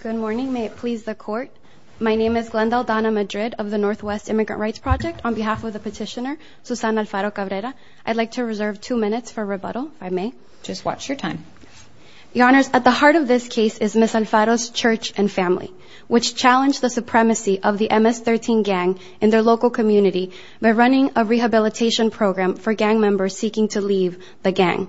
Good morning. May it please the Court. My name is Glenda Aldana Madrid of the Northwest Immigrant Rights Project. On behalf of the petitioner, Susana Alfaro Cabrera, I'd like to reserve two minutes for rebuttal, if I may. Just watch your time. Your Honors, at the heart of this case is Ms. Alfaro's church and family, which challenged the supremacy of the MS-13 gang in their local community by running a rehabilitation program for gang members seeking to leave the gang.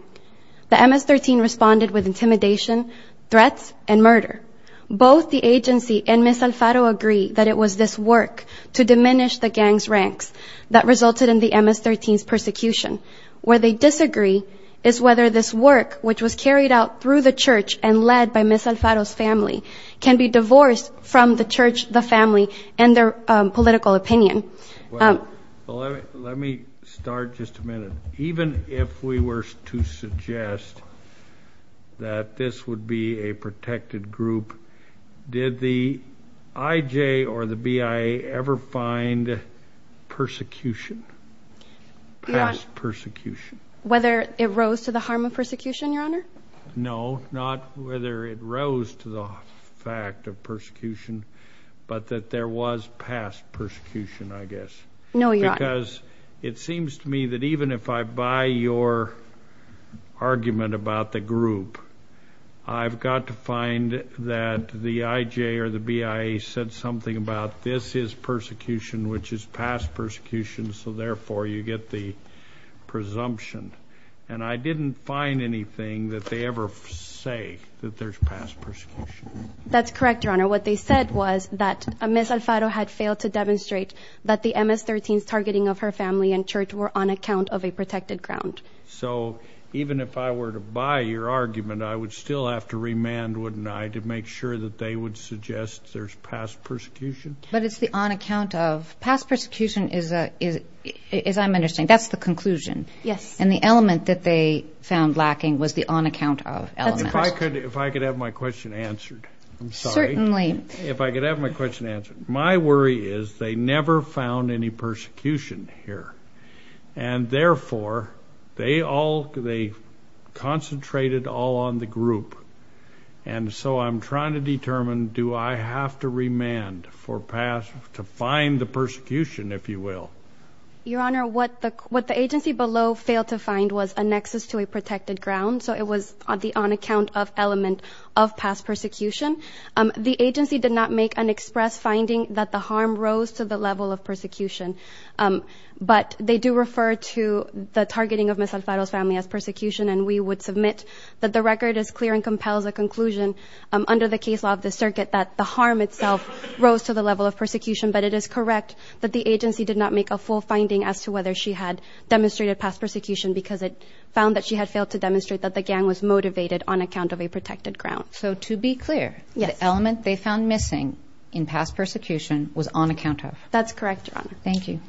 The MS-13 responded with intimidation, threats, and murder. Both the agency and Ms. Alfaro agree that it was this work to diminish the gang's ranks that resulted in the MS-13's persecution. Where they disagree is whether this work, which was carried out through the church and led by Ms. Alfaro's family, can be divorced from the church, the family, and their political opinion. Well, let me start just a minute. Even if we were to suggest that this would be a protected group, did the IJ or the BIA ever find persecution, past persecution? Whether it rose to the harm of persecution, Your Honor? No, not whether it rose to the fact of persecution, but that there was past persecution, I guess. No, Your Honor. Because it seems to me that even if I buy your argument about the group, I've got to find that the IJ or the BIA said something about this is persecution, which is past persecution, so therefore you get the presumption. And I didn't find anything that they ever say that there's past persecution. That's correct, Your Honor. What they said was that Ms. Alfaro had failed to demonstrate that the MS-13's targeting of her family and church were on account of a protected ground. So even if I were to buy your argument, I would still have to remand, wouldn't I, to make sure that they would suggest there's past persecution? But it's the on account of. Past persecution is, I'm understanding, that's the conclusion. Yes. And the element that they found lacking was the on account of element. If I could have my question answered, I'm sorry. Certainly. If I could have my question answered. My worry is they never found any persecution here. And therefore, they concentrated all on the group. And so I'm trying to determine, do I have to remand to find the persecution, if you will? Your Honor, what the agency below failed to find was a nexus to a protected ground. So it was on the on account of element of past persecution. The agency did not make an express finding that the harm rose to the level of persecution. But they do refer to the targeting of Ms. Alfaro's family as persecution, and we would submit that the record is clear and that the harm itself rose to the level of persecution. But it is correct that the agency did not make a full finding as to whether she had demonstrated past persecution because it found that she had failed to demonstrate that the gang was motivated on account of a protected ground. So to be clear, the element they found missing in past persecution was on account of. That's correct, Your Honor. Thank you.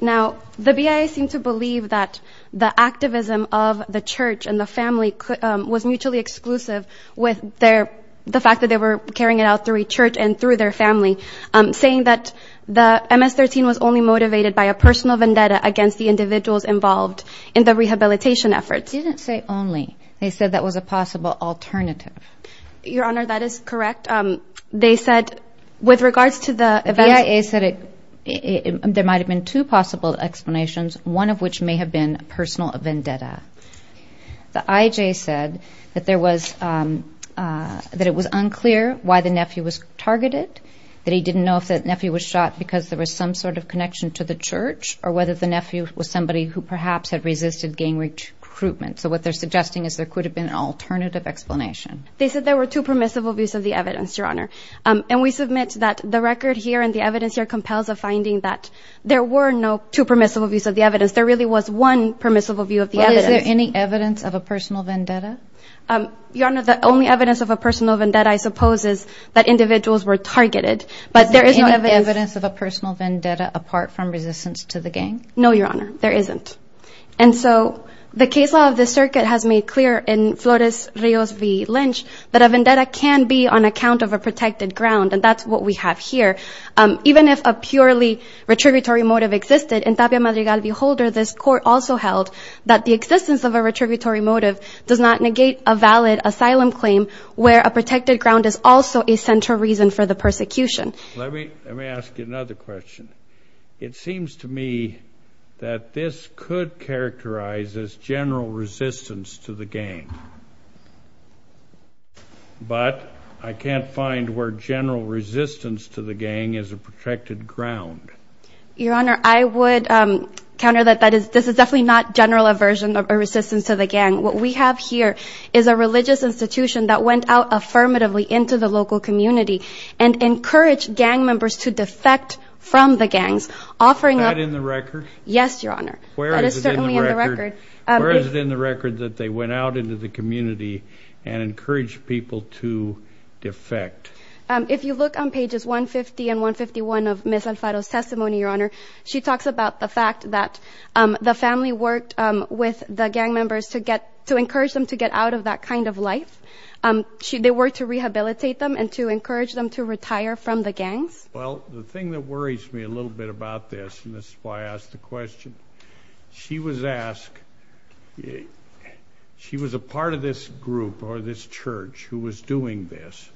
Now, the BIA seemed to believe that the activism of the church and the family was mutually exclusive with the fact that they were carrying it out through a church and through their family, saying that the MS-13 was only motivated by a personal vendetta against the individuals involved in the rehabilitation efforts. They didn't say only. They said that was a possible alternative. Your Honor, that is correct. They said, with regards to the events... The BIA said there might have been two possible explanations, one of which may have been personal vendetta. The IJ said that it was unclear why the nephew was targeted, that he didn't know if the nephew was shot because there was some sort of connection to the church or whether the nephew was somebody who perhaps had resisted gang recruitment. So what they're suggesting is there could have been an alternative explanation. They said there were two permissible views of the evidence, Your Honor. And we submit that the record here and the evidence here compels a finding that there were no two permissible views of the evidence. There really was one permissible view of the evidence. Well, is there any evidence of a personal vendetta? Your Honor, the only evidence of a personal vendetta, I suppose, is that individuals were targeted. But there is no evidence... Is there any evidence of a personal vendetta apart from resistance to the gang? No, Your Honor. There isn't. And so the case law of the circuit has made clear in Flores Rios v. Lynch that a vendetta can be on account of a protected ground. And that's what we have here. Even if a purely retributory motive existed, in Tapia Madrigal v. Holder, this court also held that the existence of a retributory motive does not negate a valid asylum claim where a protected ground is also a central reason for the persecution. Let me ask you another question. It seems to me that this could characterize as general resistance to the gang. But I can't find where general resistance to the gang is. Resistance to the gang is a protected ground. Your Honor, I would counter that. This is definitely not general aversion or resistance to the gang. What we have here is a religious institution that went out affirmatively into the local community and encouraged gang members to defect from the gangs, offering up... Is that in the record? Yes, Your Honor. Where is it in the record? That is certainly in the record. Where is it in the record that they went out into the community and encouraged people to defect? If you look on pages 150 and 151 of Ms. Alfaro's testimony, Your Honor, she talks about the fact that the family worked with the gang members to encourage them to get out of that kind of life. They worked to rehabilitate them and to encourage them to retire from the gangs. Well, the thing that worries me a little bit about this, and this is why I asked the question, she was asked... She was a part of this group or this church who was doing this,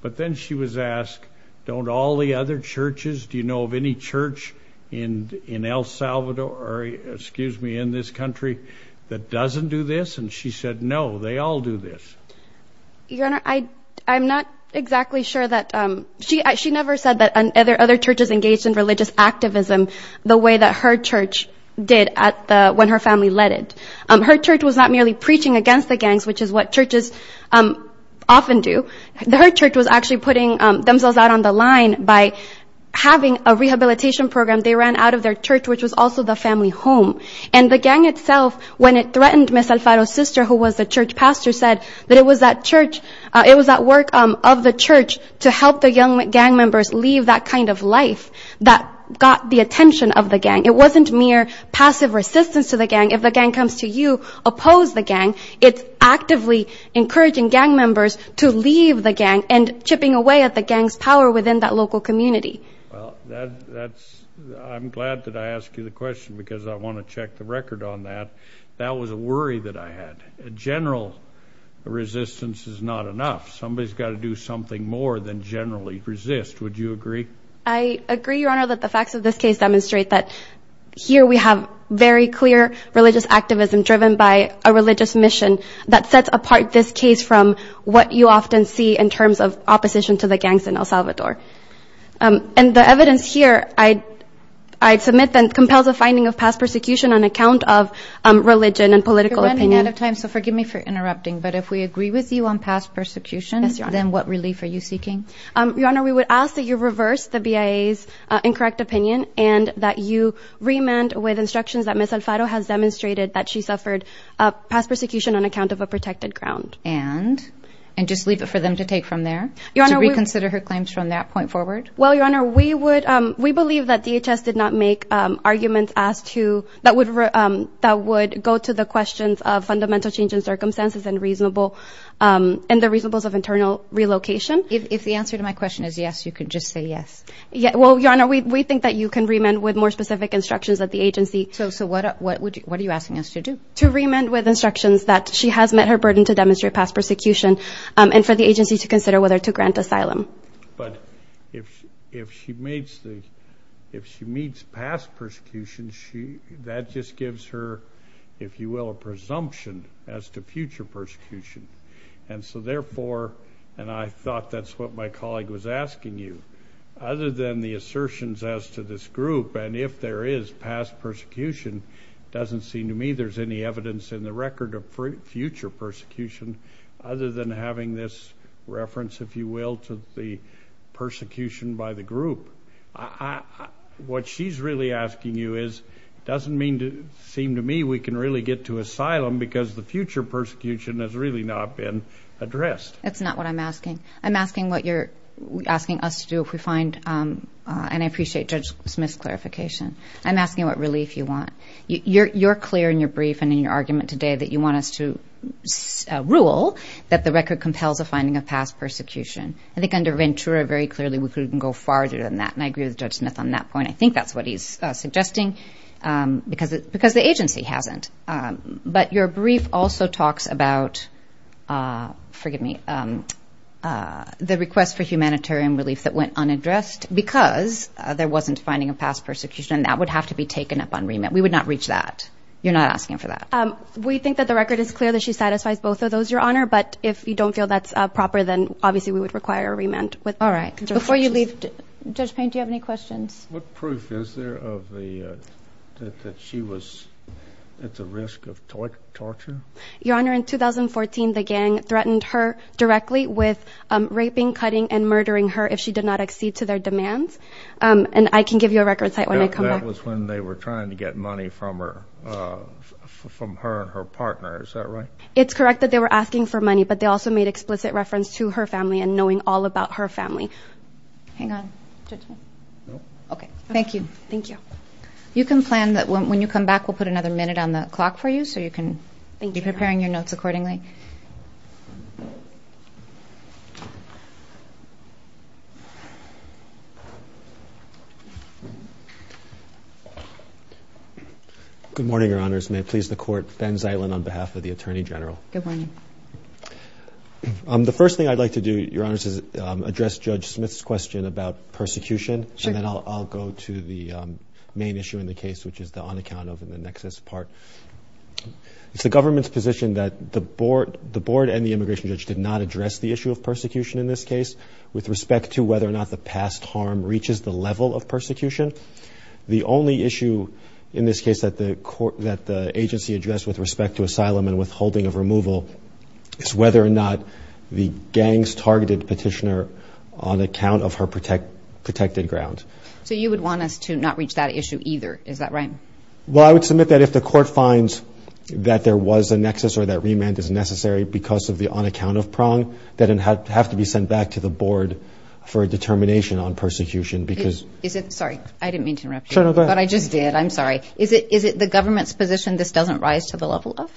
but then she was asked, don't all the other churches, do you know of any church in El Salvador or, excuse me, in this country that doesn't do this? And she said, no, they all do this. Your Honor, I'm not exactly sure that... She never said that other churches engaged in what she did when her family led it. Her church was not merely preaching against the gangs, which is what churches often do. Her church was actually putting themselves out on the line by having a rehabilitation program. They ran out of their church, which was also the family home. And the gang itself, when it threatened Ms. Alfaro's sister, who was the church pastor, said that it was that church... It was that work of the church to help the young gang It wasn't mere passive resistance to the gang. If the gang comes to you, oppose the gang. It's actively encouraging gang members to leave the gang and chipping away at the gang's power within that local community. Well, that's... I'm glad that I asked you the question because I want to check the record on that. That was a worry that I had. A general resistance is not enough. Somebody's got to do something more than generally resist. Would you agree? I agree, Your Honor, that the facts of this case demonstrate that here we have very clear religious activism driven by a religious mission that sets apart this case from what you often see in terms of opposition to the gangs in El Salvador. And the evidence here I'd submit then compels a finding of past persecution on account of religion and political opinion. We're running out of time, so forgive me for interrupting, but if we agree with you on past persecution, then what relief are you seeking? Your Honor, we would ask that you reverse the BIA's incorrect opinion and that you remand with instructions that Ms. Alfaro has demonstrated that she suffered past persecution on account of a protected ground. And? And just leave it for them to take from there? To reconsider her claims from that point forward? Well, Your Honor, we believe that DHS did not make arguments that would go to the questions of fundamental change in circumstances and the reasonableness of internal relocation. If the answer to my question is yes, you can just say yes. Well, Your Honor, we think that you can remand with more specific instructions that the agency So, what are you asking us to do? To remand with instructions that she has met her burden to demonstrate past persecution and for the agency to consider whether to grant asylum. But if she meets past persecution, that just gives her, if you will, a presumption as to That's what my colleague was asking you. Other than the assertions as to this group, and if there is past persecution, it doesn't seem to me there's any evidence in the record of future persecution other than having this reference, if you will, to the persecution by the group. What she's really asking you is, it doesn't seem to me we can really get to asylum because the future persecution has really not been addressed. That's not what I'm asking. I'm asking what you're asking us to do if we find, and I appreciate Judge Smith's clarification. I'm asking what relief you want. You're clear in your brief and in your argument today that you want us to rule that the record compels a finding of past persecution. I think under Ventura, very clearly, we couldn't go farther than that, and I agree with Judge Smith on that point. I think that's what he's suggesting because the agency hasn't. But your brief also talks about, forgive me, the request for humanitarian relief that went unaddressed because there wasn't finding of past persecution, and that would have to be taken up on remand. We would not reach that. You're not asking for that. We think that the record is clear that she satisfies both of those, Your Honor, but if you don't feel that's proper, then obviously we would require a remand. All right. Before you leave, Judge Payne, do you have any questions? What proof is there that she was at the risk of torture? Your Honor, in 2014, the gang threatened her directly with raping, cutting, and murdering her if she did not accede to their demands, and I can give you a record site when I come back. That was when they were trying to get money from her and her partner, is that right? It's correct that they were asking for money, but they also made explicit reference to her family and knowing all about her family. Hang on. Judge Smith? No. Okay. Thank you. Thank you. You can plan that when you come back, we'll put another minute on the clock for you so you can be preparing your notes accordingly. Good morning, Your Honors. May it please the Court, Ben Zeitlin on behalf of the Attorney General. Good morning. The first thing I'd like to do, Your Honors, is address Judge Smith's question about persecution. Sure. And then I'll go to the main issue in the case, which is the unaccount of and the nexus part. It's the government's position that the board and the immigration judge did not address the issue of persecution in this case with respect to whether or not the past harm reaches the level of persecution. The only issue in this case that the agency addressed with respect to asylum and withholding of removal is whether or not the gangs targeted Petitioner on account of her protected grounds. So you would want us to not reach that issue either. Is that right? Well, I would submit that if the Court finds that there was a nexus or that remand is necessary because of the unaccount of prong, that it'd have to be sent back to the board for a determination on persecution because... Sorry. I didn't mean to interrupt you. No, go ahead. But I just did. I'm sorry. Is it the government's position this doesn't rise to the level of?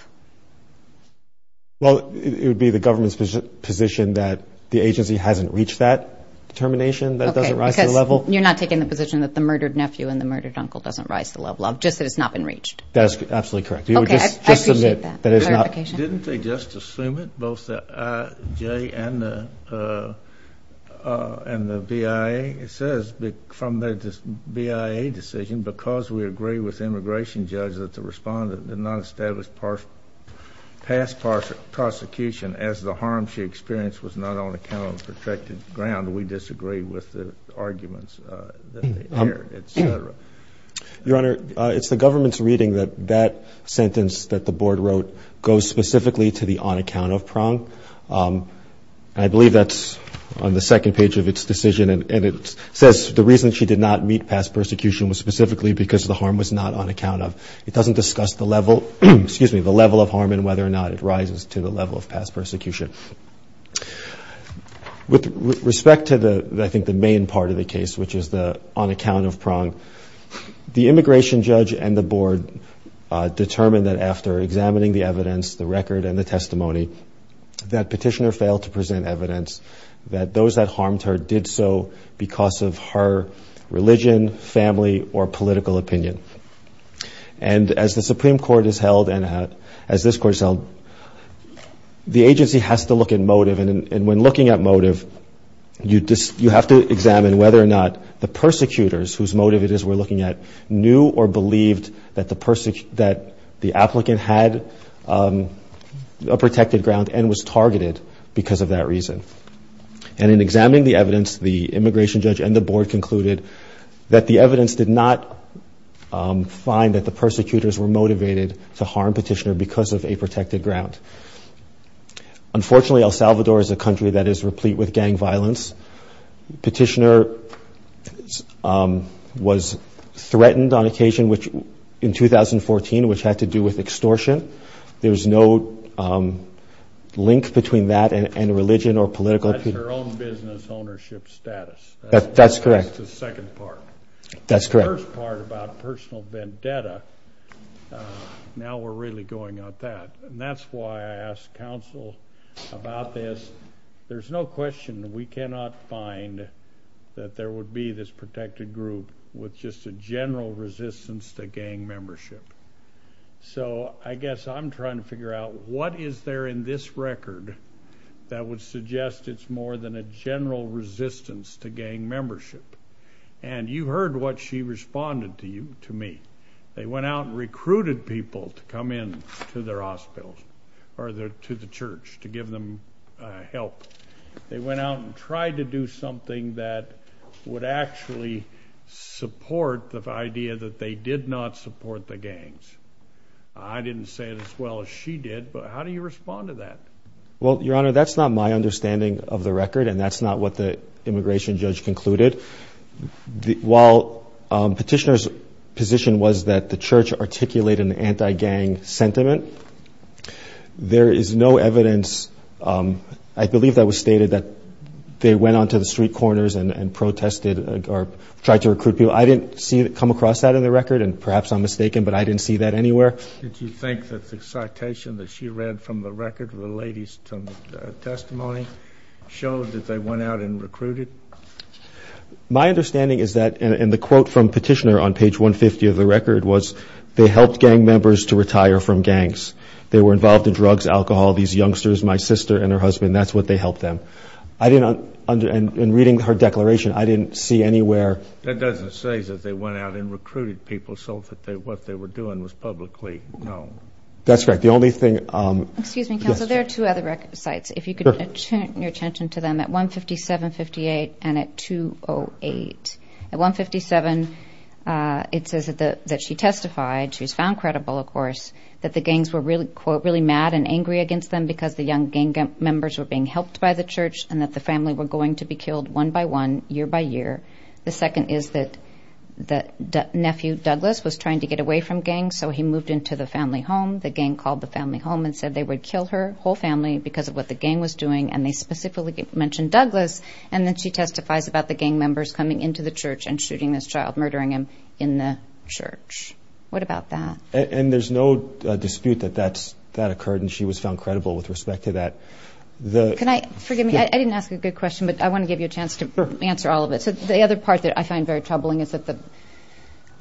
Well, it would be the government's position that the agency hasn't reached that determination that doesn't rise to the level. Okay. Because you're not taking the position that the murdered nephew and the murdered uncle doesn't rise to the level of just that it's not been reached. Okay. I appreciate that clarification. You would just submit that it's not... Didn't they just assume it, both the IJ and the BIA? I mean, it says from the BIA decision, because we agree with the immigration judge that the respondent did not establish past prosecution as the harm she experienced was not on account of protected ground, we disagree with the arguments that they aired, et cetera. Your Honor, it's the government's reading that that sentence that the board wrote goes specifically to the unaccount of prong, and I believe that's on the second page of its decision, and it says the reason she did not meet past persecution was specifically because the harm was not on account of. It doesn't discuss the level of harm and whether or not it rises to the level of past persecution. With respect to, I think, the main part of the case, which is the unaccount of prong, the immigration judge and the board determined that after examining the evidence, the record and the testimony, that petitioner failed to present evidence that those that harmed her did so because of her religion, family, or political opinion. And as the Supreme Court has held, and as this Court has held, the agency has to look at motive, and when looking at motive, you have to examine whether or not the persecutors, whose motive it is we're looking at, knew or believed that the applicant had a protected ground and was targeted because of that reason. And in examining the evidence, the immigration judge and the board concluded that the evidence did not find that the persecutors were motivated to harm petitioner because of a protected ground. Unfortunately, El Salvador is a country that is replete with gang violence. Petitioner was threatened on occasion in 2014, which had to do with extortion. There's no link between that and religion or political opinion. That's her own business ownership status. That's correct. That's the second part. That's correct. The first part about personal vendetta, now we're really going at that. And that's why I asked counsel about this. There's no question we cannot find that there would be this protected group with just a general resistance to gang membership. So, I guess I'm trying to figure out what is there in this record that would suggest it's more than a general resistance to gang membership. And you heard what she responded to you, to me. They went out and recruited people to come in to their hospitals or to the church to give them help. They went out and tried to do something that would actually support the idea that they did not support the gangs. I didn't say it as well as she did, but how do you respond to that? Well, Your Honor, that's not my understanding of the record and that's not what the immigration judge concluded. While Petitioner's position was that the church articulated an anti-gang sentiment, there is no evidence, I believe that was stated, that they went onto the street corners and protested or tried to recruit people. I didn't come across that in the record, and perhaps I'm mistaken, but I didn't see that anywhere. Did you think that the citation that she read from the record, the lady's testimony, showed that they went out and recruited? My understanding is that, and the quote from Petitioner on page 150 of the record was, they helped gang members to retire from gangs. They were involved in drugs, alcohol, these youngsters, my sister and her husband, that's what they helped them. In reading her declaration, I didn't see anywhere. That doesn't say that they went out and recruited people so that what they were doing was publicly known. That's right. The only thing... Excuse me, Counselor. There are two other sites. If you could turn your attention to them at 157-58 and at 208. At 157, it says that she testified, she was found credible, of course, that the gangs were really, quote, really mad and angry against them because the young gang members were being helped by the church and that the family were going to be killed one by one, year by year. The second is that nephew Douglas was trying to get away from gangs, so he moved into the family home. The gang called the family home and said they would kill her, whole family, because of what the gang was doing, and they specifically mentioned Douglas, and then she testifies about the gang members coming into the church and shooting this child, murdering him in the church. What about that? And there's no dispute that that occurred and she was found credible with respect to that. Can I... Forgive me, I didn't ask a good question, but I want to give you a chance to answer all of it. So, the other part that I find very troubling is that the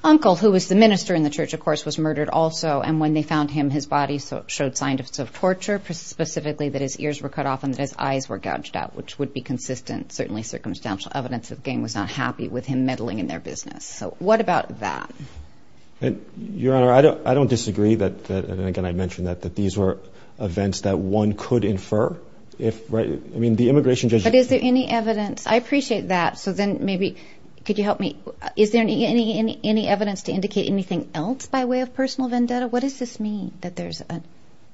uncle, who was the minister in the church, of course, was murdered also, and when they found him, his body showed signs of torture, specifically that his ears were cut off and that his eyes were gouged out, which would be consistent, certainly, circumstantial evidence that the gang was not happy with him meddling in their business. So, what about that? Your Honor, I don't disagree that, and again, I mentioned that, that these were events that one could infer if, I mean, the immigration judge... But is there any evidence? I appreciate that. So, then, maybe, could you help me? Is there any evidence to indicate anything else by way of personal vendetta? What does this mean, that there's a...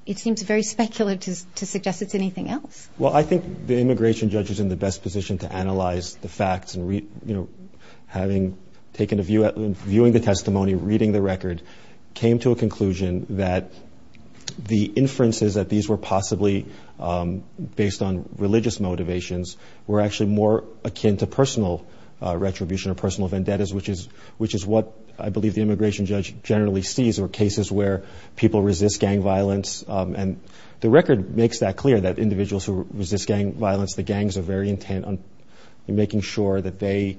It seems very speculative to suggest it's anything else. Well, I think the immigration judge is in the best position to analyze the facts and read, you know, having taken a view, viewing the testimony, reading the record, came to a conclusion that the inferences that these were possibly based on religious motivations were actually more akin to personal retribution or personal vendettas, which is what I believe the immigration judge generally sees, or cases where people resist gang violence. And the record makes that clear, that individuals who resist gang violence, the gangs are very intent on making sure that they,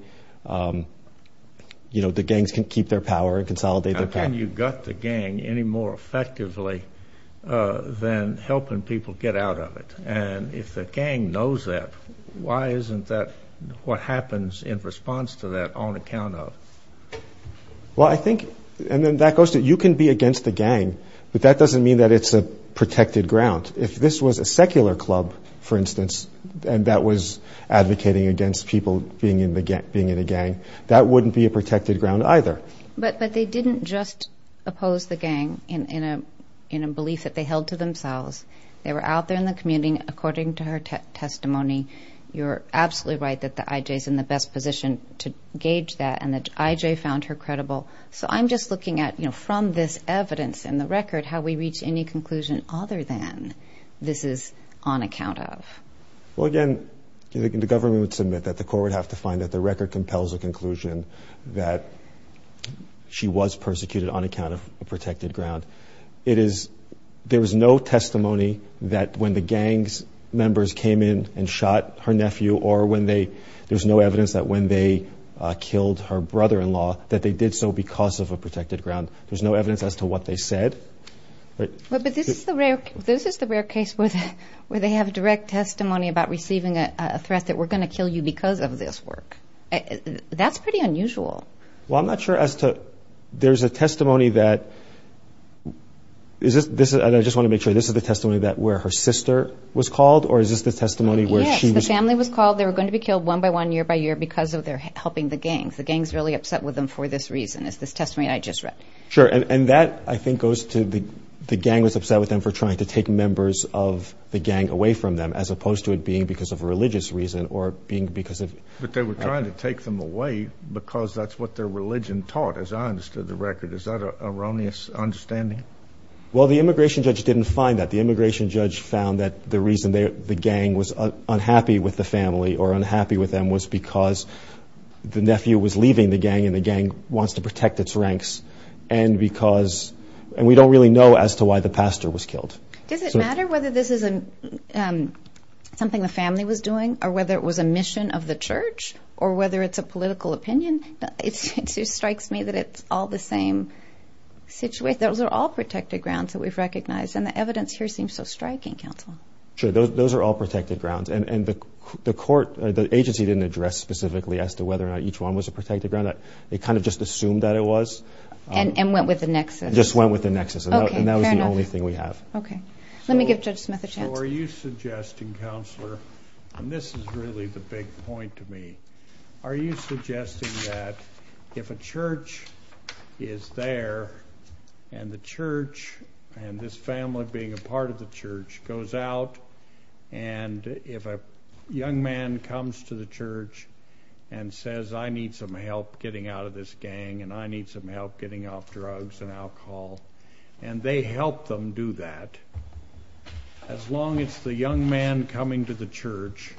you know, the gangs can keep their power and consolidate their power. How can you gut the gang any more effectively than helping people get out of it? And if the gang knows that, why isn't that what happens in response to that on account of? Well, I think, and then that goes to, you can be against the gang, but that doesn't mean that it's a protected ground. If this was a secular club, for instance, and that was advocating against people being in a gang, that wouldn't be a protected ground either. But they didn't just oppose the gang in a belief that they held to themselves. They were out there in the community, according to her testimony, you're absolutely right that the IJ is in the best position to gauge that, and the IJ found her credible. So I'm just looking at, you know, from this evidence in the record, how we reach any conclusion other than this is on account of. Well, again, the government would submit that the court would have to find that the record compels a conclusion that she was persecuted on account of a protected ground. It is, there was no testimony that when the gang's members came in and shot her nephew or when they, there's no evidence that when they killed her brother-in-law that they did so because of a protected ground. There's no evidence as to what they said. But this is the rare case where they have direct testimony about receiving a threat that we're going to kill you because of this work. That's pretty unusual. Well, I'm not sure as to, there's a testimony that, is this, and I just want to make sure, this is the testimony that where her sister was called or is this the testimony where she was? Yes, the family was called. They were going to be killed one by one year by year because of their helping the gangs. The gangs really upset with them for this reason, is this testimony I just read. Sure, and that I think goes to the gang was upset with them for trying to take members of the gang away from them as opposed to it being because of a religious reason or being because of. But they were trying to take them away because that's what their religion taught, as I understood the record. Is that an erroneous understanding? Well, the immigration judge didn't find that. The immigration judge found that the reason the gang was unhappy with the family or unhappy with them was because the nephew was leaving the gang and the gang wants to protect its ranks and because, and we don't really know as to why the pastor was killed. Does it matter whether this is something the family was doing or whether it was a mission of the church or whether it's a political opinion? It strikes me that it's all the same situation. Those are all protected grounds that we've recognized and the evidence here seems so striking counsel. Sure, those are all protected grounds and the court, the agency didn't address specifically as to whether or not each one was a protected ground. They kind of just assumed that it was. And went with the nexus. Just went with the nexus. Okay, fair enough. And that was the only thing we have. Okay. Let me give Judge Smith a chance. So are you suggesting, Counselor, and this is really the big point to me. Are you suggesting that if a church is there and the church and this family being a part of the church goes out and if a young man comes to the church and says I need some help getting out of this gang and I need some help getting off drugs and alcohol and they help them do that, as long as the young man coming to the church,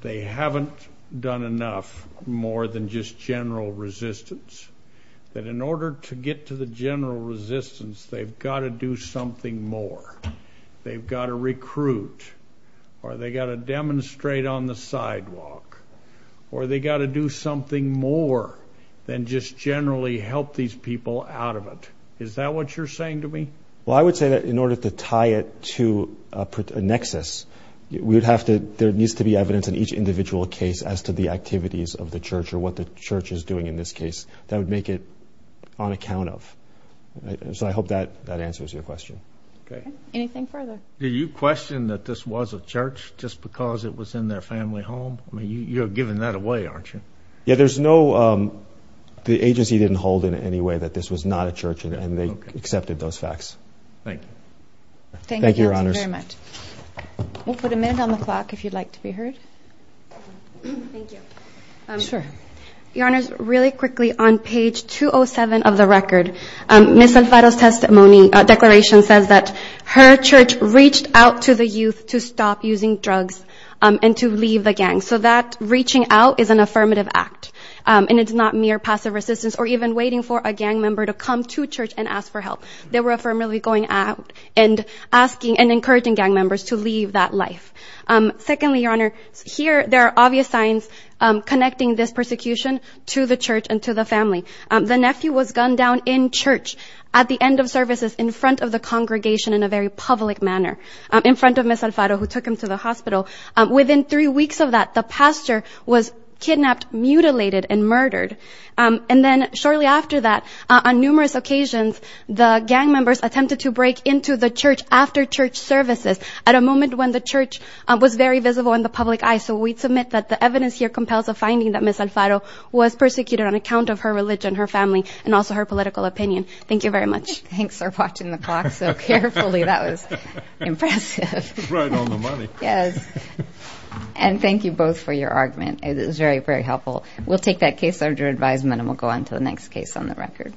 they haven't done enough more than just general resistance, that in order to get to the general resistance, they've got to do something more. They've got to recruit or they've got to demonstrate on the sidewalk or they've got to do something more than just generally help these people out of it. Is that what you're saying to me? Well, I would say that in order to tie it to a nexus, there needs to be evidence in each individual case as to the activities of the church or what the church is doing in this case that would make it on account of. So I hope that answers your question. Okay. Anything further? Did you question that this was a church just because it was in their family home? I mean, you're giving that away, aren't you? Yeah, there's no... The agency didn't hold in any way that this was not a church and they accepted those facts. Thank you. Thank you, Your Honors. Thank you very much. We'll put a minute on the clock if you'd like to be heard. Thank you. Sure. Your Honors, really quickly, on page 207 of the record, Ms. Alfaro's declaration says that her church reached out to the youth to stop using drugs and to leave the gang. So that reaching out is an affirmative act and it's not mere passive resistance or even waiting for a gang member to come to church and ask for help. They were affirmatively going out and asking and encouraging gang members to leave that life. Secondly, Your Honor, here there are obvious signs connecting this persecution to the church and to the family. The nephew was gunned down in church at the end of services in front of the congregation in a very public manner, in front of Ms. Alfaro, who took him to the hospital. Within three weeks of that, the pastor was kidnapped, mutilated, and murdered. And then shortly after that, on numerous occasions, the gang members attempted to break into the church after church services at a moment when the church was very visible in the public eye. So we'd submit that the evidence here compels a finding that Ms. Alfaro was persecuted on account of her religion, her family, and also her political opinion. Thank you very much. Thanks for watching the clock so carefully. That was impressive. Right on the money. Yes. And thank you both for your argument. It was very, very helpful. We'll take that case under advisement and we'll go on to the next case on the record.